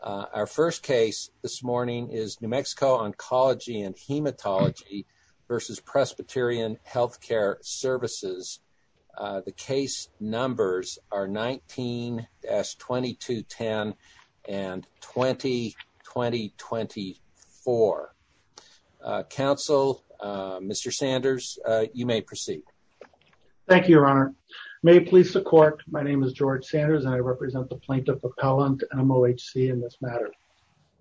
Our first case this morning is New Mexico Oncology and Hematology versus Presbyterian Healthcare Services. Uh, the case numbers are 19-2210 and 20-2024. Uh, counsel, uh, Mr. Sanders, uh, you may proceed. Thank you, your honor. May it please the court. My name is George Sanders and I represent the Plaintiff Appellant to NMOHC in this matter.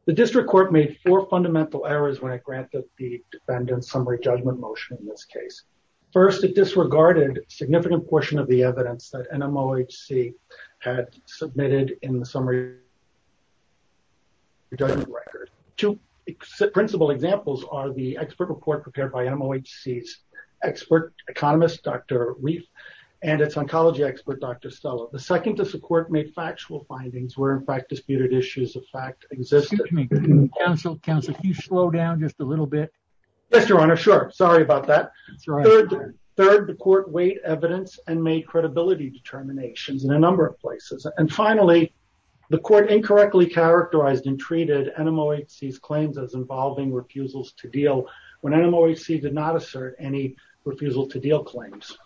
The district court made four fundamental errors when it granted the defendant summary judgment motion in this case. First, it disregarded significant portion of the evidence that NMOHC had submitted in the summary judgment record. Two principal examples are the expert report prepared by NMOHC's expert economist, Dr. Reif and its oncology expert, Dr. Stella. The second is the court made factual findings where in fact, disputed issues of fact exist. Counsel, counsel, can you slow down just a little bit? Yes, your honor. Sure. Sorry about that. Third, the court weighed evidence and made credibility determinations in a number of places. And finally, the court incorrectly characterized and treated NMOHC's claims as involving refusals to deal when NMOHC did not assert any refusal to deal claims.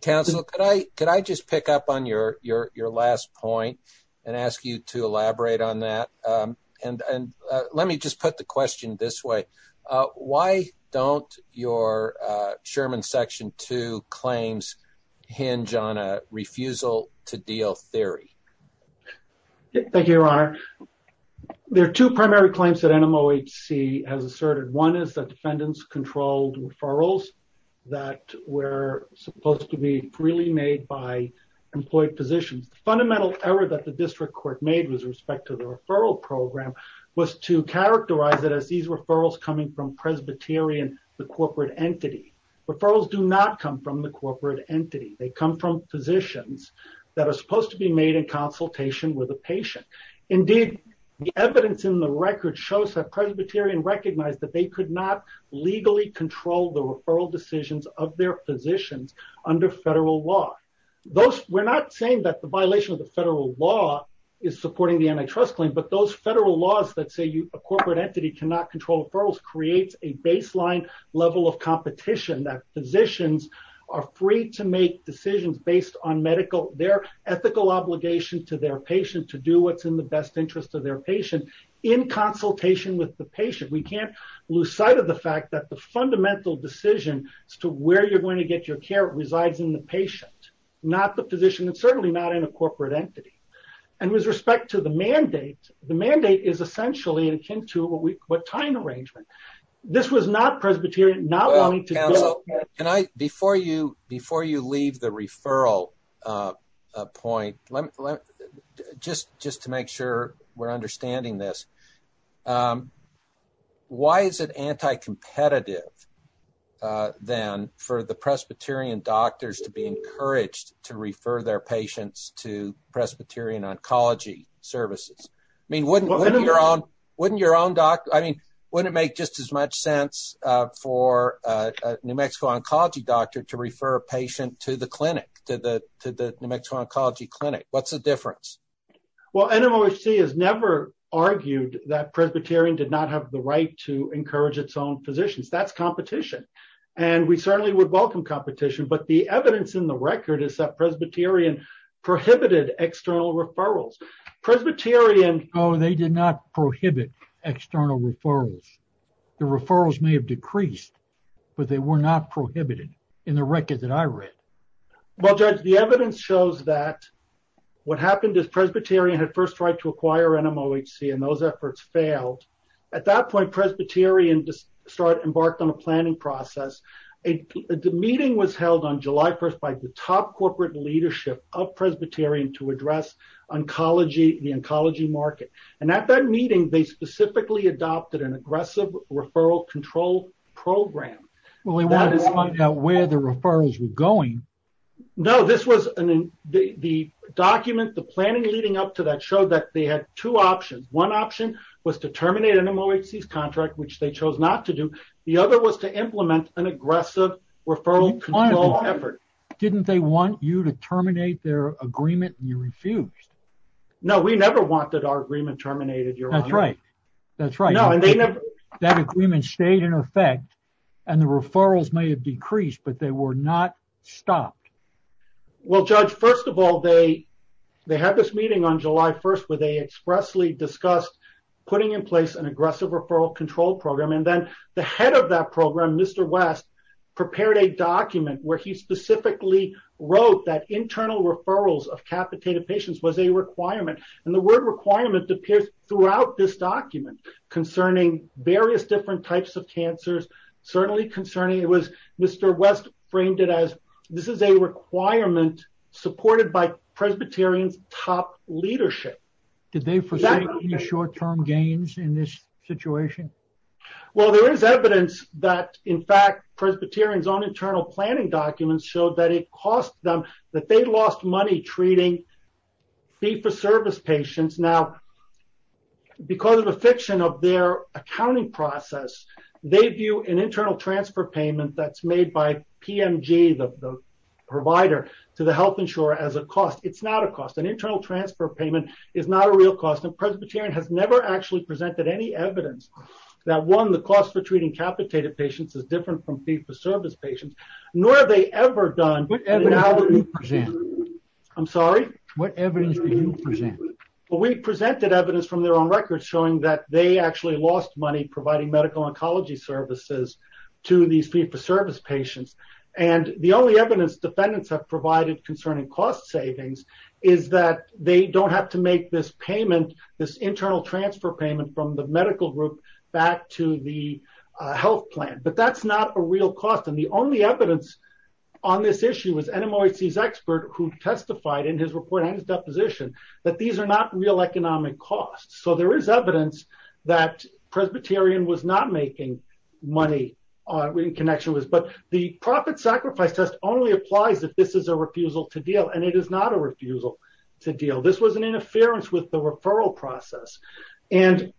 Counsel, could I, could I just pick up on your, your, your last point and ask you to elaborate on that? Um, and, and, uh, let me just put the question this way. Uh, why don't your, uh, Sherman section two claims hinge on a refusal to deal theory? Thank you, your honor. There are two primary claims that NMOHC has asserted. One is that defendants controlled referrals that were supposed to be freely made by employed positions. The fundamental error that the district court made with respect to the referral program was to characterize it as these referrals coming from Presbyterian, the corporate entity. Referrals do not come from the corporate entity. They come from physicians that are supposed to be made in consultation with a patient. Indeed, the evidence in the record shows that Presbyterian recognized that they could not legally control the referral decisions of their physicians under federal law. Those we're not saying that the violation of the federal law is supporting the antitrust claim, but those federal laws that say you, a corporate entity cannot control referrals, creates a baseline level of competition. That physicians are free to make decisions based on medical, their ethical obligation to their patient, to do what's in the best interest of their patient in consultation with the patient. We can't lose sight of the fact that the fundamental decision as to where you're going to get your care resides in the patient, not the physician, and certainly not in a corporate entity. And with respect to the mandate, the mandate is essentially akin to what time arrangement. This was not Presbyterian, not wanting to- Well, counsel, before you leave the referral point, just to make sure we're Why is it anti-competitive then for the Presbyterian doctors to be encouraged to refer their patients to Presbyterian oncology services? I mean, wouldn't your own doctor, I mean, wouldn't it make just as much sense for a New Mexico oncology doctor to refer a patient to the clinic, to the New Mexico oncology clinic? What's the difference? Well, NMOHC has never argued that Presbyterian did not have the right to encourage its own physicians. That's competition. And we certainly would welcome competition. But the evidence in the record is that Presbyterian prohibited external referrals. Presbyterian- Oh, they did not prohibit external referrals. The referrals may have decreased, but they were not prohibited in the record that I read. Well, Judge, the evidence shows that what happened is Presbyterian had first tried to acquire NMOHC and those efforts failed. At that point, Presbyterian embarked on a planning process. A meeting was held on July 1st by the top corporate leadership of Presbyterian to address the oncology market. And at that meeting, they specifically adopted an aggressive referral control program. Well, we wanted to find out where the referrals were going. No, this was the document. The planning leading up to that showed that they had two options. One option was to terminate NMOHC's contract, which they chose not to do. The other was to implement an aggressive referral control effort. Didn't they want you to terminate their agreement and you refused? No, we never wanted our agreement terminated. That's right. That's right. That agreement stayed in effect and the referrals may have decreased, but they were not stopped. Well, Judge, first of all, they had this meeting on July 1st where they expressly discussed putting in place an aggressive referral control program. And then the head of that program, Mr. West, prepared a document where he specifically wrote that internal referrals of capitated patients was a requirement. And the word requirement appears throughout this document concerning various different types of cancers, certainly concerning. It was Mr. West framed it as this is a requirement supported by Presbyterian's top leadership. Did they foresee any short term gains in this situation? Well, there is evidence that in fact, Presbyterian's own internal planning documents showed that it cost them, that they lost money treating fee for service patients. Now, because of a fiction of their accounting process, they view an internal transfer payment that's made by PMG, the provider to the health insurer as a cost. It's not a cost. An internal transfer payment is not a real cost. And Presbyterian has never actually presented any evidence that one, the cost for treating capitated patients is different from fee for service patients, nor have they ever done. I'm sorry. What evidence do you present? Well, we presented evidence from their own records showing that they actually lost money providing medical oncology services to these fee for service patients. And the only evidence defendants have provided concerning cost savings is that they don't have to make this payment, this internal transfer payment from the medical group back to the health plan. But that's not a real cost. And the only evidence on this issue was NMOAC's expert who testified in his report and his deposition that these are not real economic costs. So there is evidence that Presbyterian was not making money in connection with this. But the profit sacrifice test only applies if this is a refusal to deal. And it is not a refusal to deal. This was an interference with the referral process. And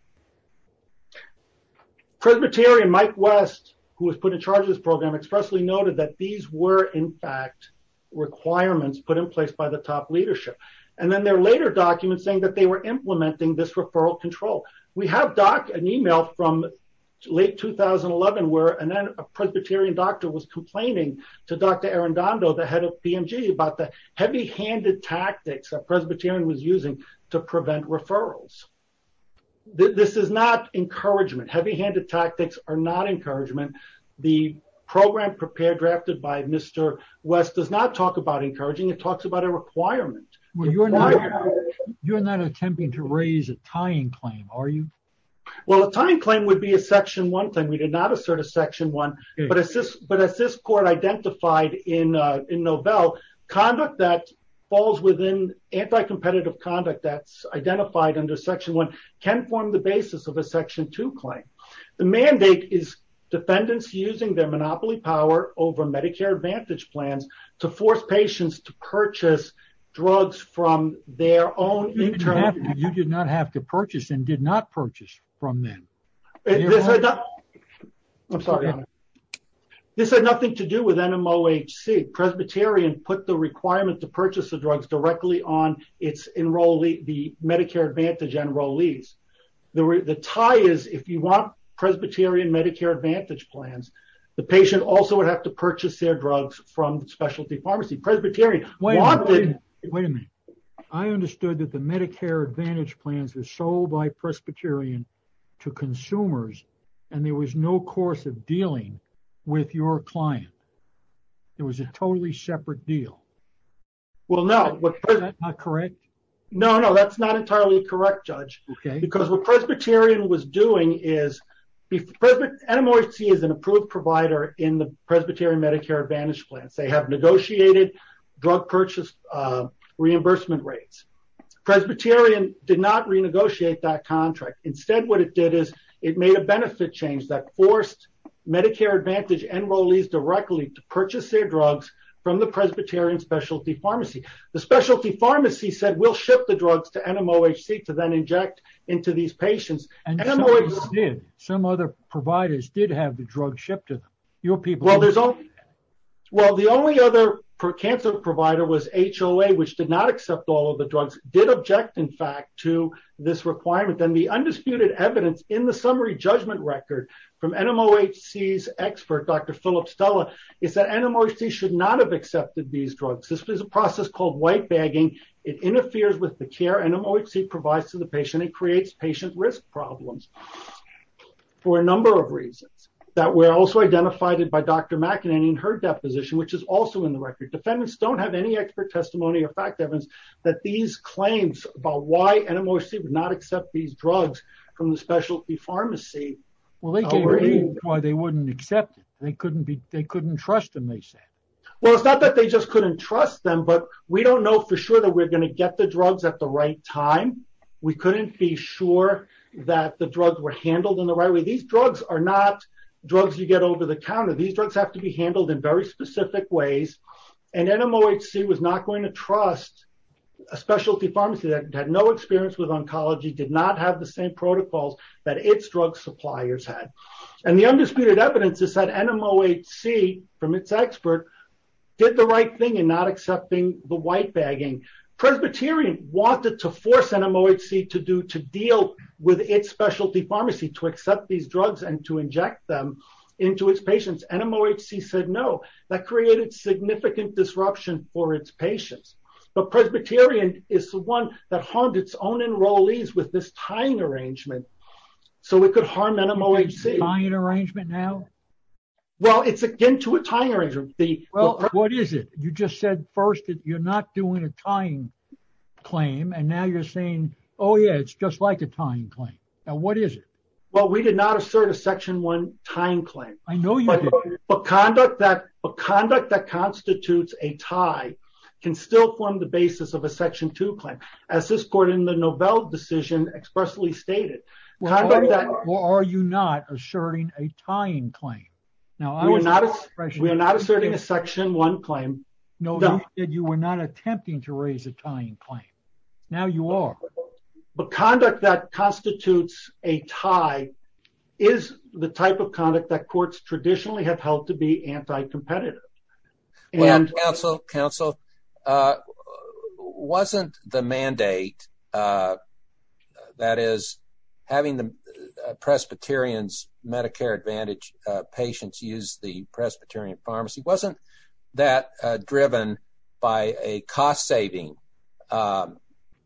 Presbyterian Mike West, who was put in charge of this program, expressly noted that these were, in fact, requirements put in place by the top leadership. And then there are later documents saying that they were implementing this referral control. We have an email from late 2011 where a Presbyterian doctor was complaining to Dr. Arundhato, the head of PMG, about the heavy handed tactics that Presbyterian was using to prevent referrals. This is not encouragement. Heavy handed tactics are not encouragement. The program prepared drafted by Mr. West does not talk about encouraging. It talks about a requirement. Well, you're not you're not attempting to raise a tying claim, are you? Well, a tying claim would be a section one thing. We did not assert a section one. But as this but as this court identified in Novell, conduct that falls within anti-competitive conduct that's identified under section one can form the basis of a section two claim. The mandate is defendants using their monopoly power over Medicare Advantage plans to force patients to purchase drugs from their own. You did not have to purchase and did not purchase from them. I'm sorry. This had nothing to do with NMOHC. Presbyterian put the requirement to purchase the drugs directly on its enrollee, the Medicare Advantage enrollees. The tie is if you want Presbyterian Medicare Advantage plans, the patient also would have to purchase their drugs from specialty pharmacy. Presbyterian. Wait a minute. I understood that the Medicare Advantage plans were sold by Presbyterian to consumers and there was no course of dealing with your client. It was a totally separate deal. Well, no, what is not correct? No, no, that's not entirely correct, Judge. Because what Presbyterian was doing is NMOHC is an approved provider in the Presbyterian Medicare Advantage plans. They have negotiated drug purchase reimbursement rates. Presbyterian did not renegotiate that contract. Instead, what it did is it made a benefit change that forced Medicare Advantage enrollees directly to purchase their drugs from the Presbyterian specialty pharmacy. The specialty pharmacy said we'll ship the drugs to NMOHC to then inject into these patients. And some other providers did have the drug shipped to them. Your people. Well, the only other cancer provider was HOA, which did not accept all of the drugs, did object, in fact, to this requirement. Then the undisputed evidence in the summary judgment record from NMOHC's expert, Dr. Philip Stella, is that NMOHC should not have accepted these drugs. This is a process called white bagging. It interferes with the care NMOHC provides to the patient and creates patient risk problems for a number of reasons that were also identified by Dr. McEnany in her deposition, which is also in the record. Defendants don't have any expert testimony or fact evidence that these claims about why NMOHC would not accept these drugs from the specialty pharmacy. Well, they gave reasons why they wouldn't accept it. They couldn't be they couldn't trust them, they said. Well, it's not that they just couldn't trust them, but we don't know for sure that we're going to get the drugs at the right time. We couldn't be sure that the drugs were handled in the right way. These drugs are not drugs you get over the counter. These drugs have to be handled in very specific ways. And NMOHC was not going to trust a specialty pharmacy that had no experience with oncology, did not have the same protocols that its drug suppliers had. And the undisputed evidence is that NMOHC, from its expert, did the right thing in not accepting the white bagging. Presbyterian wanted to force NMOHC to do to deal with its specialty pharmacy to accept these drugs and to inject them into its patients. NMOHC said no. That created significant disruption for its patients. But Presbyterian is the one that harmed its own enrollees with this tying arrangement so it could harm NMOHC. Tying arrangement now? Well, it's again to a tying arrangement. Well, what is it? You just said first that you're not doing a tying claim. And now you're saying, oh, yeah, it's just like a tying claim. Now, what is it? Well, we did not assert a section one tying claim. I know you did. But conduct that constitutes a tie can still form the basis of a section two claim, as this court in the Novell decision expressly stated. Well, are you not asserting a tying claim? Now, we're not asserting a section one claim. No, you said you were not attempting to raise a tying claim. Now you are. But conduct that constitutes a tie is the type of conduct that courts traditionally have held to be anti-competitive. Well, counsel, wasn't the mandate, that is, having the Presbyterian's Medicare Advantage patients use the Presbyterian pharmacy, wasn't that driven by a cost saving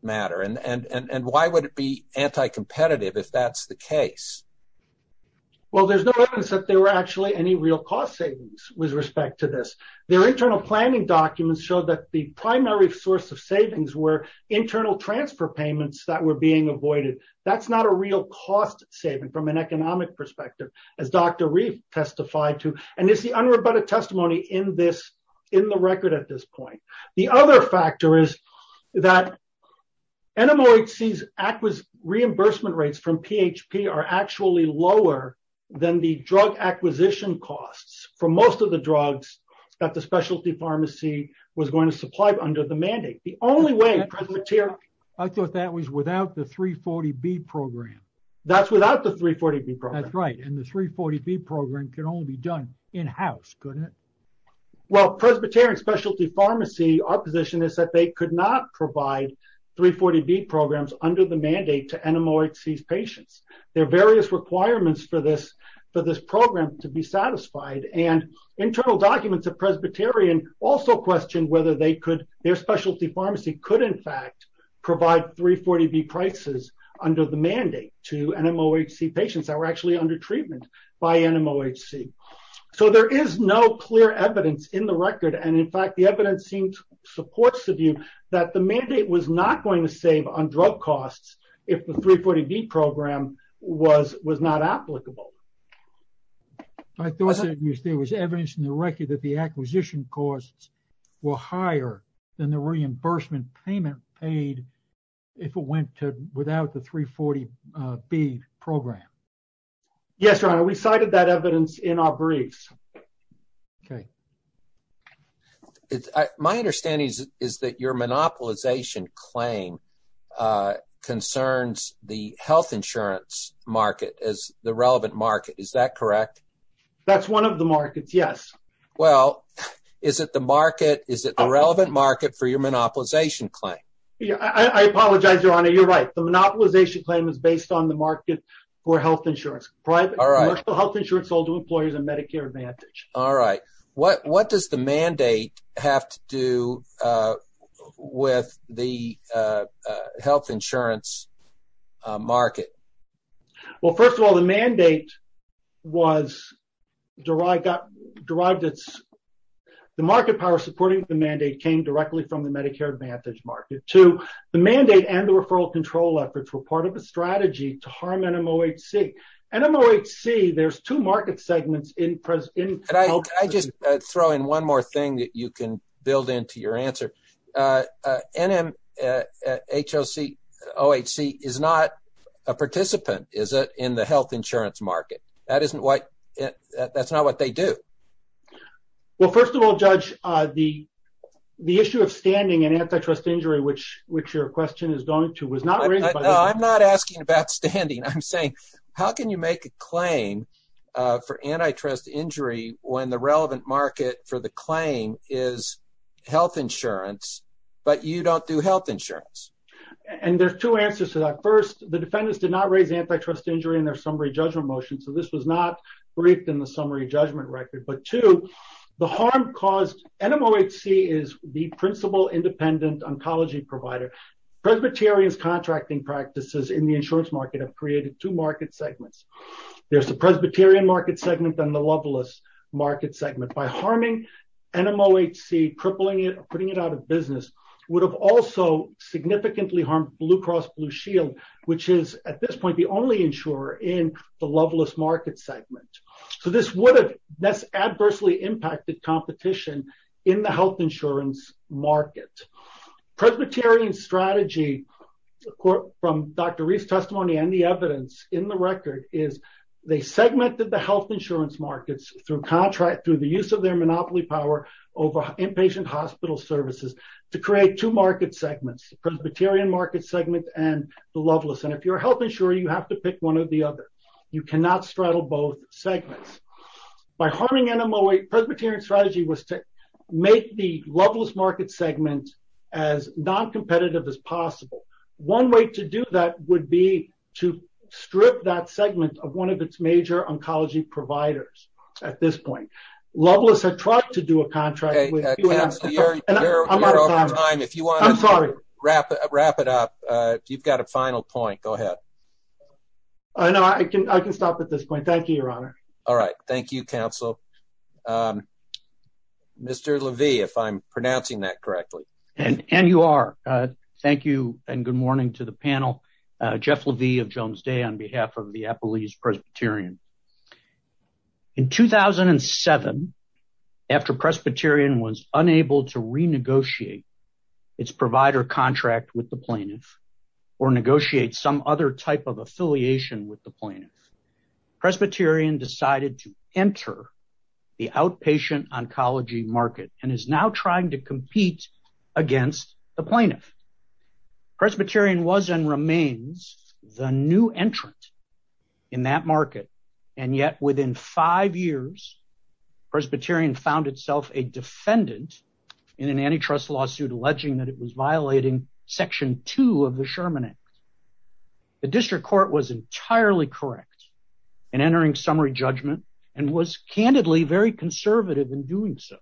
matter? And why would it be anti-competitive if that's the case? Well, there's no evidence that there were actually any real cost savings with respect to this. Their internal planning documents show that the primary source of savings were internal transfer payments that were being avoided. That's not a real cost saving from an economic perspective, as Dr. Reif testified to. And it's the unrebutted testimony in the record at this point. The other factor is that NMOHC's reimbursement rates from PHP are actually lower than the drug acquisition costs for most of the drugs that the specialty pharmacy was going to supply under the mandate. The only way Presbyterian... I thought that was without the 340B program. That's without the 340B program. That's right. And the 340B program can only be done in-house, couldn't it? Well, Presbyterian Specialty Pharmacy, our position is that they could not provide 340B programs under the mandate to NMOHC's patients. There are various requirements for this for this program to be satisfied. And internal documents of Presbyterian also questioned whether they could, their specialty pharmacy could in fact provide 340B prices under the mandate to NMOHC patients that were actually under treatment by NMOHC. So there is no clear evidence in the record. And in fact, the evidence seems to support the view that the mandate was not going to save on drug costs if the 340B program was not applicable. I thought there was evidence in the record that the acquisition costs were higher than the reimbursement payment paid if it went to without the 340B program. Yes, Your Honor, we cited that evidence in our briefs. OK. My understanding is that your monopolization claim concerns the health insurance market as the relevant market, is that correct? That's one of the markets, yes. Well, is it the market, is it the relevant market for your monopolization claim? I apologize, Your Honor, you're right. The monopolization claim is based on the market for health insurance, private health insurance sold to employees of Medicare Advantage. All right. What does the mandate have to do with the health insurance market? Well, first of all, the mandate was derived, the market power supporting the mandate came directly from the Medicare Advantage market to the mandate and the referral control efforts were part of a strategy to harm NMOHC. NMOHC, there's two market segments in. I just throw in one more thing that you can build into your answer. NMOHC is not a participant, is it, in the health insurance market? That isn't what that's not what they do. Well, first of all, Judge, the the issue of standing and antitrust injury, which which your question is going to, was not raised by the defendants. No, I'm not asking about standing. I'm saying, how can you make a claim for antitrust injury when the relevant market for the claim is health insurance, but you don't do health insurance? And there's two answers to that. First, the defendants did not raise antitrust injury in their summary judgment motion. So this was not briefed in the summary judgment record. But two, the harm caused NMOHC is the principal independent oncology provider. Presbyterians contracting practices in the insurance market have created two market segments. There's the Presbyterian market segment and the loveless market segment. By harming NMOHC, crippling it, putting it out of business would have also significantly harmed Blue Cross Blue Shield, which is at this point the only insurer in the loveless market segment. So this would have this adversely impacted competition in the health insurance market. Presbyterian strategy from Dr. Reeves testimony and the evidence in the record is they segmented the health insurance markets through contract, through the use of their monopoly power over inpatient hospital services to create two market segments, the Presbyterian market segment and the loveless. And if you're a health insurer, you have to pick one or the other. You cannot straddle both segments. By harming NMOHC, Presbyterian strategy was to make the loveless market segment as non-competitive as possible. One way to do that would be to strip that segment of one of its major oncology providers at this point. Loveless had tried to do a contract. You're out of time. If you want to wrap it up, you've got a final point. Go ahead. I know I can stop at this point. Thank you, Your Honor. All right. Thank you, counsel. Mr. Levy, if I'm pronouncing that correctly. And you are. Thank you. And good morning to the panel. Jeff Levy of Jones Day on behalf of the Appalachian Presbyterian. In 2007, after Presbyterian was unable to renegotiate its provider contract with the plaintiff or negotiate some other type of affiliation with the plaintiff, Presbyterian decided to enter the outpatient oncology market and is now trying to compete against the plaintiff. Presbyterian was and remains the new entrant in that market. And yet within five years, Presbyterian found itself a defendant in an antitrust lawsuit alleging that it was violating Section two of the Sherman Act. The district court was entirely correct in entering summary judgment and was candidly very conservative in doing so.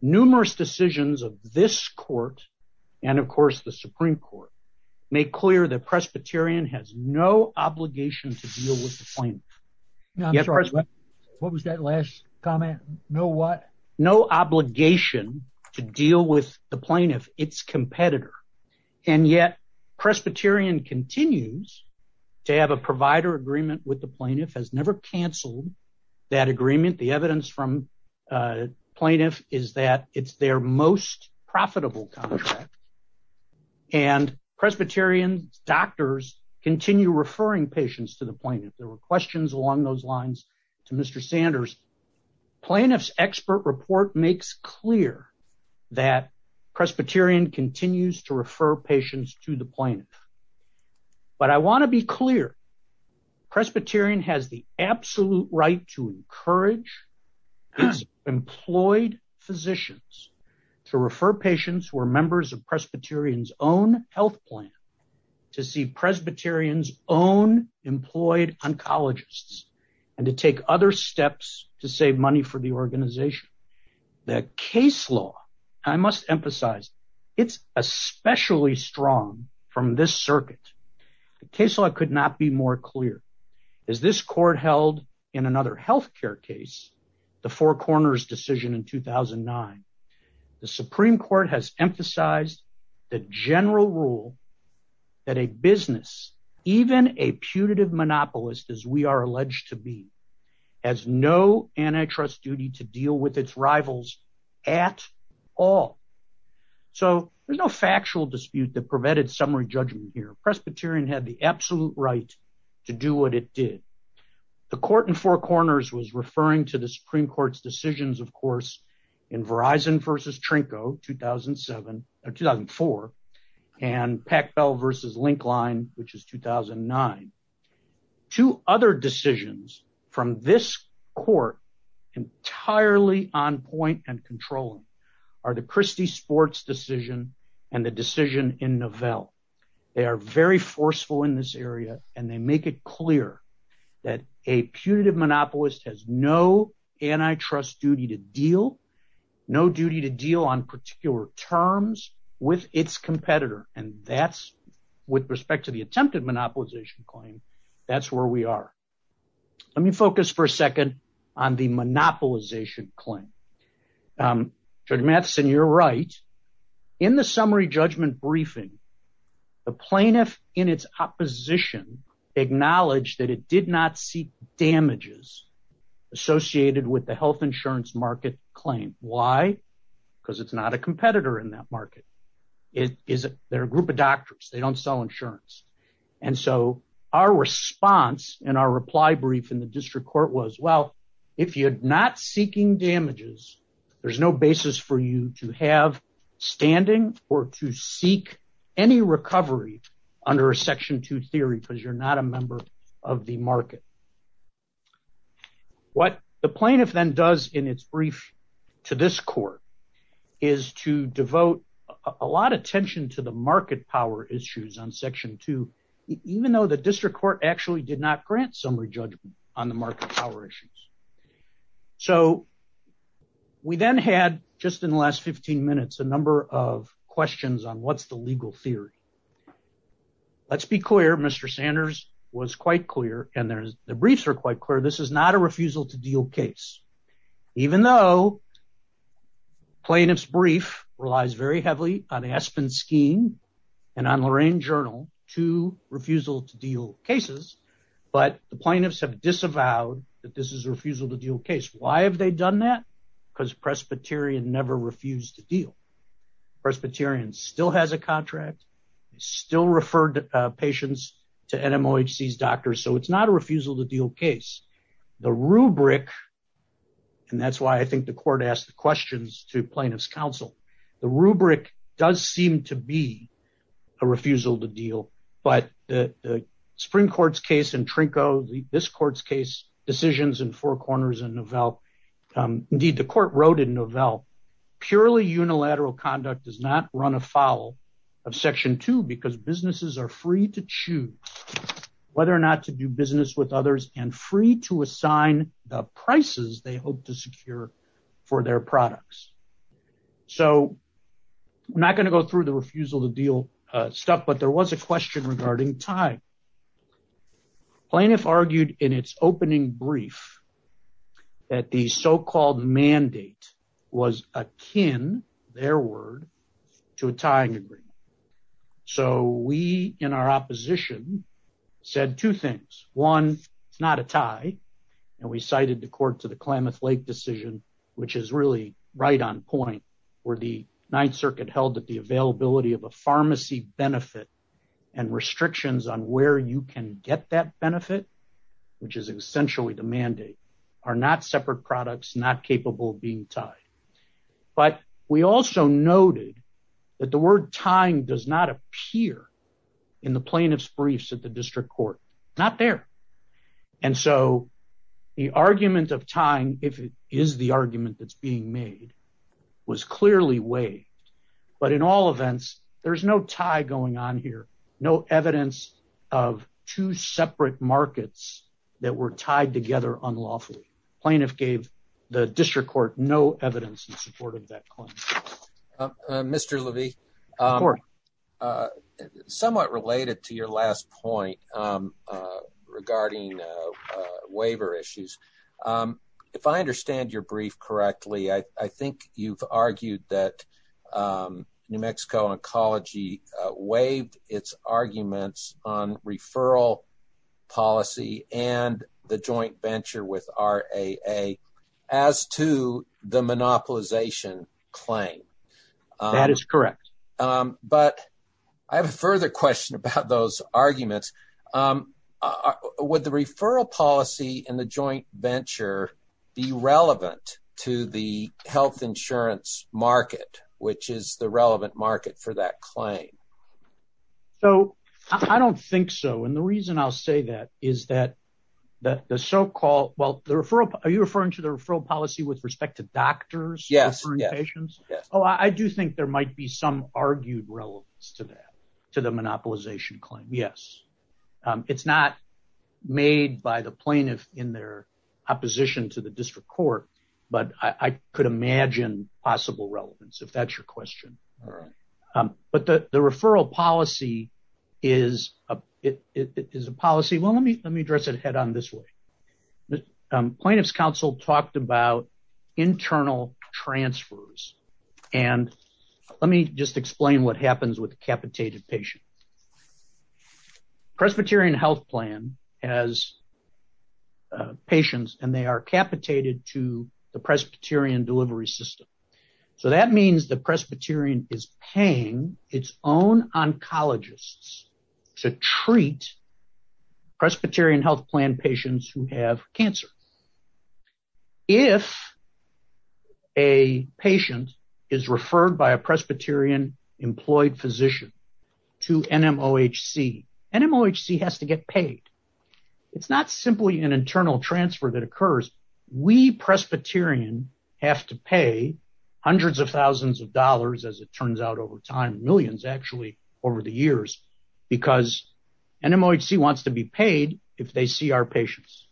Numerous decisions of this court and, of course, the Supreme Court make clear that Presbyterian has no obligation to deal with the plaintiff. No, I'm sorry, what was that last comment, no what? No obligation to deal with the plaintiff, its competitor. And yet Presbyterian continues to have a provider agreement with the plaintiff, has never canceled that agreement. The evidence from plaintiff is that it's their most profitable contract. And Presbyterian doctors continue referring patients to the plaintiff, there were questions along those lines to Mr. Sanders, plaintiff's expert report makes clear that Presbyterian continues to refer patients to the plaintiff. But I want to be clear, Presbyterian has the absolute right to encourage its employed physicians to refer patients who are members of Presbyterian's own health plan to see Presbyterian's own employed oncologists and to take other steps to save money for the organization. The case law, I must emphasize, it's especially strong from this circuit. The case law could not be more clear. As this court held in another health care case, the Four Corners decision in 2009, the Supreme Court has emphasized the general rule that a business, even a putative monopolist, as we are alleged to be, has no antitrust duty to deal with its rivals at all. So there's no factual dispute that prevented summary judgment here. Presbyterian had the absolute right to do what it did. The court in Four Corners was referring to the Supreme Court's decisions, of course, in Verizon versus Trinco 2007 or 2004 and Pac Bell versus Linkline, which is 2009. Two other decisions from this court entirely on point and controlling are the Christie Sports decision and the decision in Novell. They are very forceful in this area and they make it clear that a putative monopolist has no antitrust duty to deal, no duty to deal on particular terms with its competitor. And that's with respect to the attempted monopolization claim, that's where we are. Let me focus for a second on the monopolization claim. Judge Matheson, you're right. In the summary judgment briefing, the plaintiff in its opposition acknowledged that it did not seek damages associated with the health insurance market claim. Why? Because it's not a competitor in that market. They're a group of doctors. They don't sell insurance. And so our response and our reply brief in the district court was, well, if you're not there's no basis for you to have standing or to seek any recovery under a section two theory because you're not a member of the market. What the plaintiff then does in its brief to this court is to devote a lot of attention to the market power issues on section two, even though the district court actually did not grant summary judgment on the market power issues. So we then had just in the last 15 minutes, a number of questions on what's the legal theory. Let's be clear. Mr. Sanders was quite clear and the briefs are quite clear. This is not a refusal to deal case, even though plaintiff's brief relies very heavily on Aspen scheme and on Lorraine journal to refusal to deal cases. But the plaintiffs have disavowed that this is a refusal to deal case. Why have they done that? Because Presbyterian never refused to deal. Presbyterian still has a contract, still referred patients to NMOHC's doctors. So it's not a refusal to deal case. The rubric, and that's why I think the court asked the questions to plaintiff's counsel. The rubric does seem to be a refusal to deal, but the Supreme Court's case in Trinco, this court's case decisions in Four Corners and Novell. Indeed, the court wrote in Novell, purely unilateral conduct does not run afoul of section two because businesses are free to choose whether or not to do business with others and free to assign the prices they hope to secure for their products. So I'm not going to go through the refusal to deal stuff, but there was a question regarding time. Plaintiff argued in its opening brief that the so-called mandate was akin, their word, to a tying agreement. So we, in our opposition, said two things. One, it's not a tie. And we cited the court to the Klamath Lake decision, which is really right on point where the Ninth Circuit held that the availability of a pharmacy benefit and restrictions on where you can get that benefit, which is essentially the mandate, are not separate products, not capable of being tied. But we also noted that the word tying does not appear in the plaintiff's briefs at the district court. Not there. And so the argument of tying, if it is the argument that's being made, was clearly weighed. But in all events, there's no tie going on here. No evidence of two separate markets that were tied together unlawfully. Plaintiff gave the district court no evidence in support of that claim. Mr. Levy, somewhat related to your last point regarding waiver issues, if I understand your brief correctly, I think you've argued that New Mexico Oncology waived its arguments on That is correct. But I have a further question about those arguments. Would the referral policy and the joint venture be relevant to the health insurance market, which is the relevant market for that claim? So I don't think so. And the reason I'll say that is that the so-called, well, the referral, are you referring to the referral policy with respect to doctors? Yes. I do think there might be some argued relevance to that, to the monopolization claim. Yes. It's not made by the plaintiff in their opposition to the district court. But I could imagine possible relevance, if that's your question. But the referral policy is a policy. Well, let me address it head on this way. Plaintiff's counsel talked about internal transfers. And let me just explain what happens with a capitated patient. Presbyterian health plan has patients and they are capitated to the Presbyterian delivery system. So that means the Presbyterian is paying its own oncologists to treat Presbyterian health plan patients who have cancer. If a patient is referred by a Presbyterian employed physician to NMOHC, NMOHC has to get paid. It's not simply an internal transfer that occurs. We Presbyterian have to pay hundreds of thousands of dollars, as it turns out over time, millions actually over the years, because NMOHC wants to be paid if they see our patients.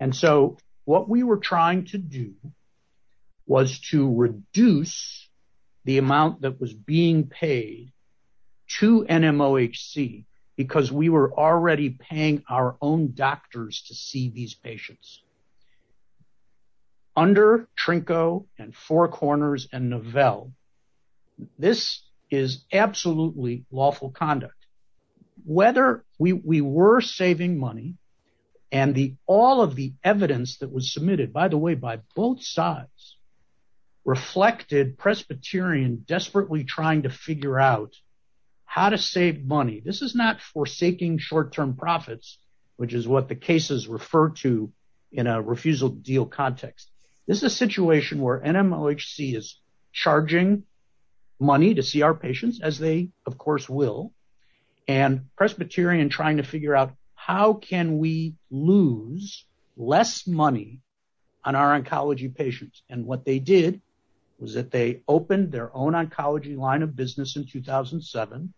And so what we were trying to do was to reduce the amount that was being paid to NMOHC because we were already paying our own doctors to see these patients. Under Trinco and Four Corners and Novell, this is absolutely lawful conduct. Whether we were saving money and all of the evidence that was submitted, by the way, by both sides, reflected Presbyterian desperately trying to figure out how to save money. This is not forsaking short-term profits, which is what the cases refer to in a refusal deal context. This is a situation where NMOHC is charging money to see our patients, as they of course will, and Presbyterian trying to figure out how can we lose less money on our oncology patients. And what they did was that they opened their own oncology line of business in 2007.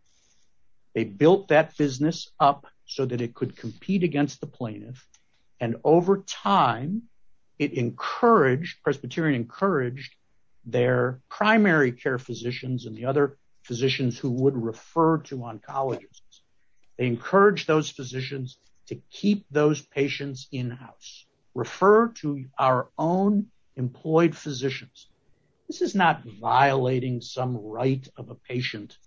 They built that business up so that it could compete against the plaintiff and over time, it encouraged, Presbyterian encouraged their primary care physicians and the other physicians who would refer to oncologists. They encouraged those physicians to keep those patients in-house, refer to our own employed physicians. This is not violating some right of a patient.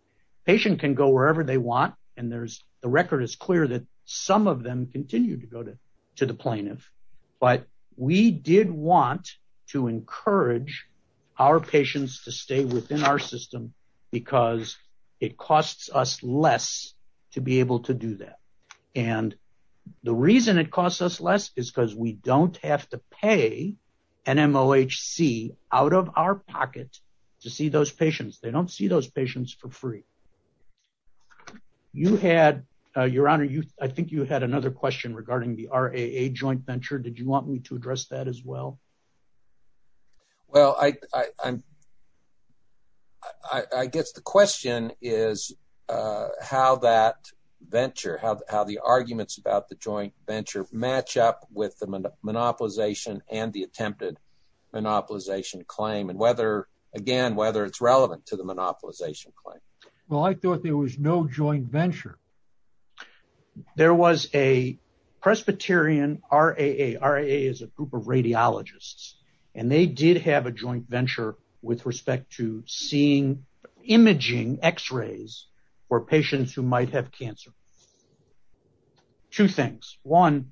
A patient can go wherever they want and there's, the record is clear that some of them continue to go to the plaintiff, but we did want to encourage our patients to stay within our system because it costs us less to be able to do that. And the reason it costs us less is because we don't have to pay NMOHC out of our pocket to see those patients. They don't see those patients for free. You had, Your Honor, I think you had another question regarding the RAA joint venture. Did you want me to address that as well? Well, I guess the question is how that venture, how the arguments about the joint venture match up with the monopolization and the attempted monopolization claim, and whether, again, whether it's relevant to the monopolization claim. Well, I thought there was no joint venture. There was a Presbyterian RAA, RAA is a group of radiologists, and they did have a joint venture with respect to seeing, imaging x-rays for patients who might have cancer. Two things. One,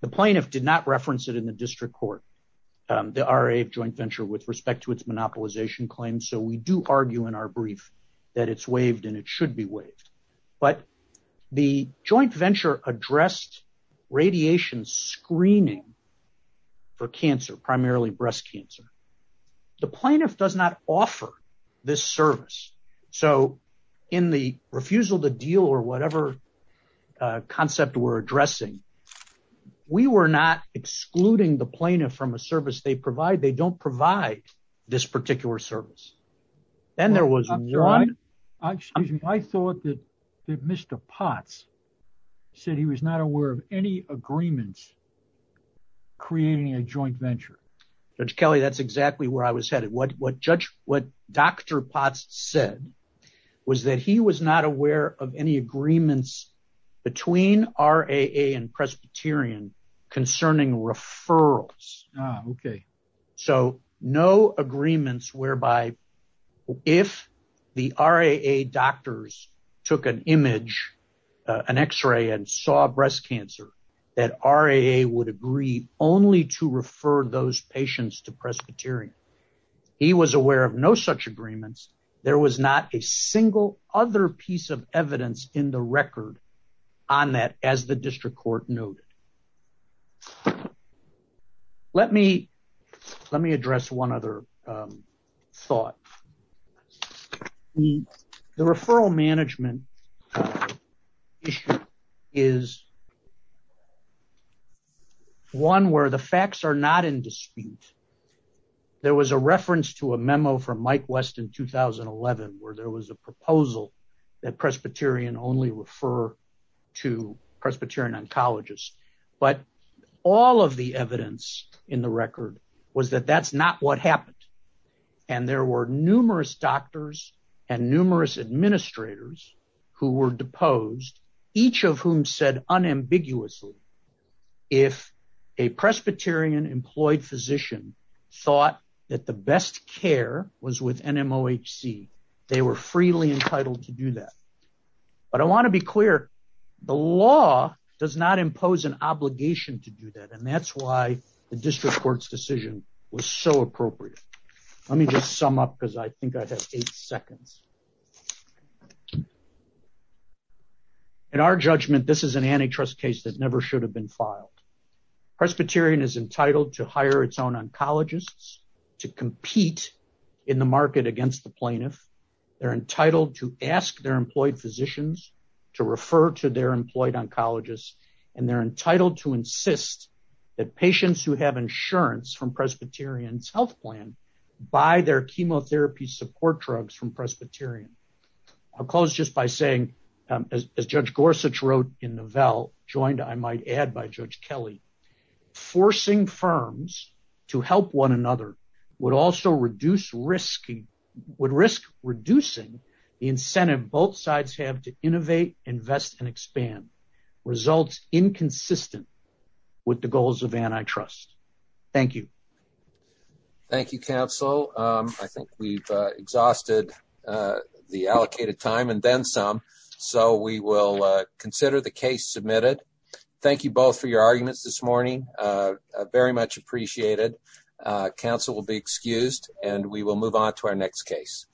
the plaintiff did not reference it in the district court, the RAA joint venture with respect to its monopolization claim. So we do argue in our brief that it's waived and it should be waived. But the joint venture addressed radiation screening for cancer, primarily breast cancer. The plaintiff does not offer this service. So in the refusal to deal or whatever concept we're addressing, we were not excluding the plaintiff from a service they provide. They don't provide this particular service. Then there was one. Excuse me. I thought that Mr. Potts said he was not aware of any agreements creating a joint venture. Judge Kelly, that's exactly where I was headed. What Dr. Potts said was that he was not aware of any agreements between RAA and Presbyterian concerning referrals. Ah, okay. So no agreements whereby if the RAA doctors took an image, an x-ray and saw breast cancer, that RAA would agree only to refer those patients to Presbyterian. He was aware of no such agreements. There was not a single other piece of evidence in the record on that as the district court noted. Let me address one other thought. The referral management issue is one where the facts are not in dispute. There was a reference to a memo from Mike West in 2011 where there was a proposal that Presbyterian oncologist, but all of the evidence in the record was that that's not what happened. There were numerous doctors and numerous administrators who were deposed, each of whom said unambiguously, if a Presbyterian employed physician thought that the best care was with NMOHC, they were freely entitled to do that. But I want to be clear, the law does not impose an obligation to do that. And that's why the district court's decision was so appropriate. Let me just sum up because I think I have eight seconds. In our judgment, this is an antitrust case that never should have been filed. Presbyterian is entitled to hire its own oncologists to compete in the market against the plaintiff. They're entitled to ask their employed physicians to refer to their employed oncologists, and they're entitled to insist that patients who have insurance from Presbyterian's health plan buy their chemotherapy support drugs from Presbyterian. I'll close just by saying, as Judge Gorsuch wrote in the Novell joined, I might add by would risk reducing the incentive both sides have to innovate, invest, and expand. Results inconsistent with the goals of antitrust. Thank you. Thank you, counsel. I think we've exhausted the allocated time and then some, so we will consider the case submitted. Thank you both for your arguments this morning. Very much appreciated. Counsel will be excused and we will move on to our next case.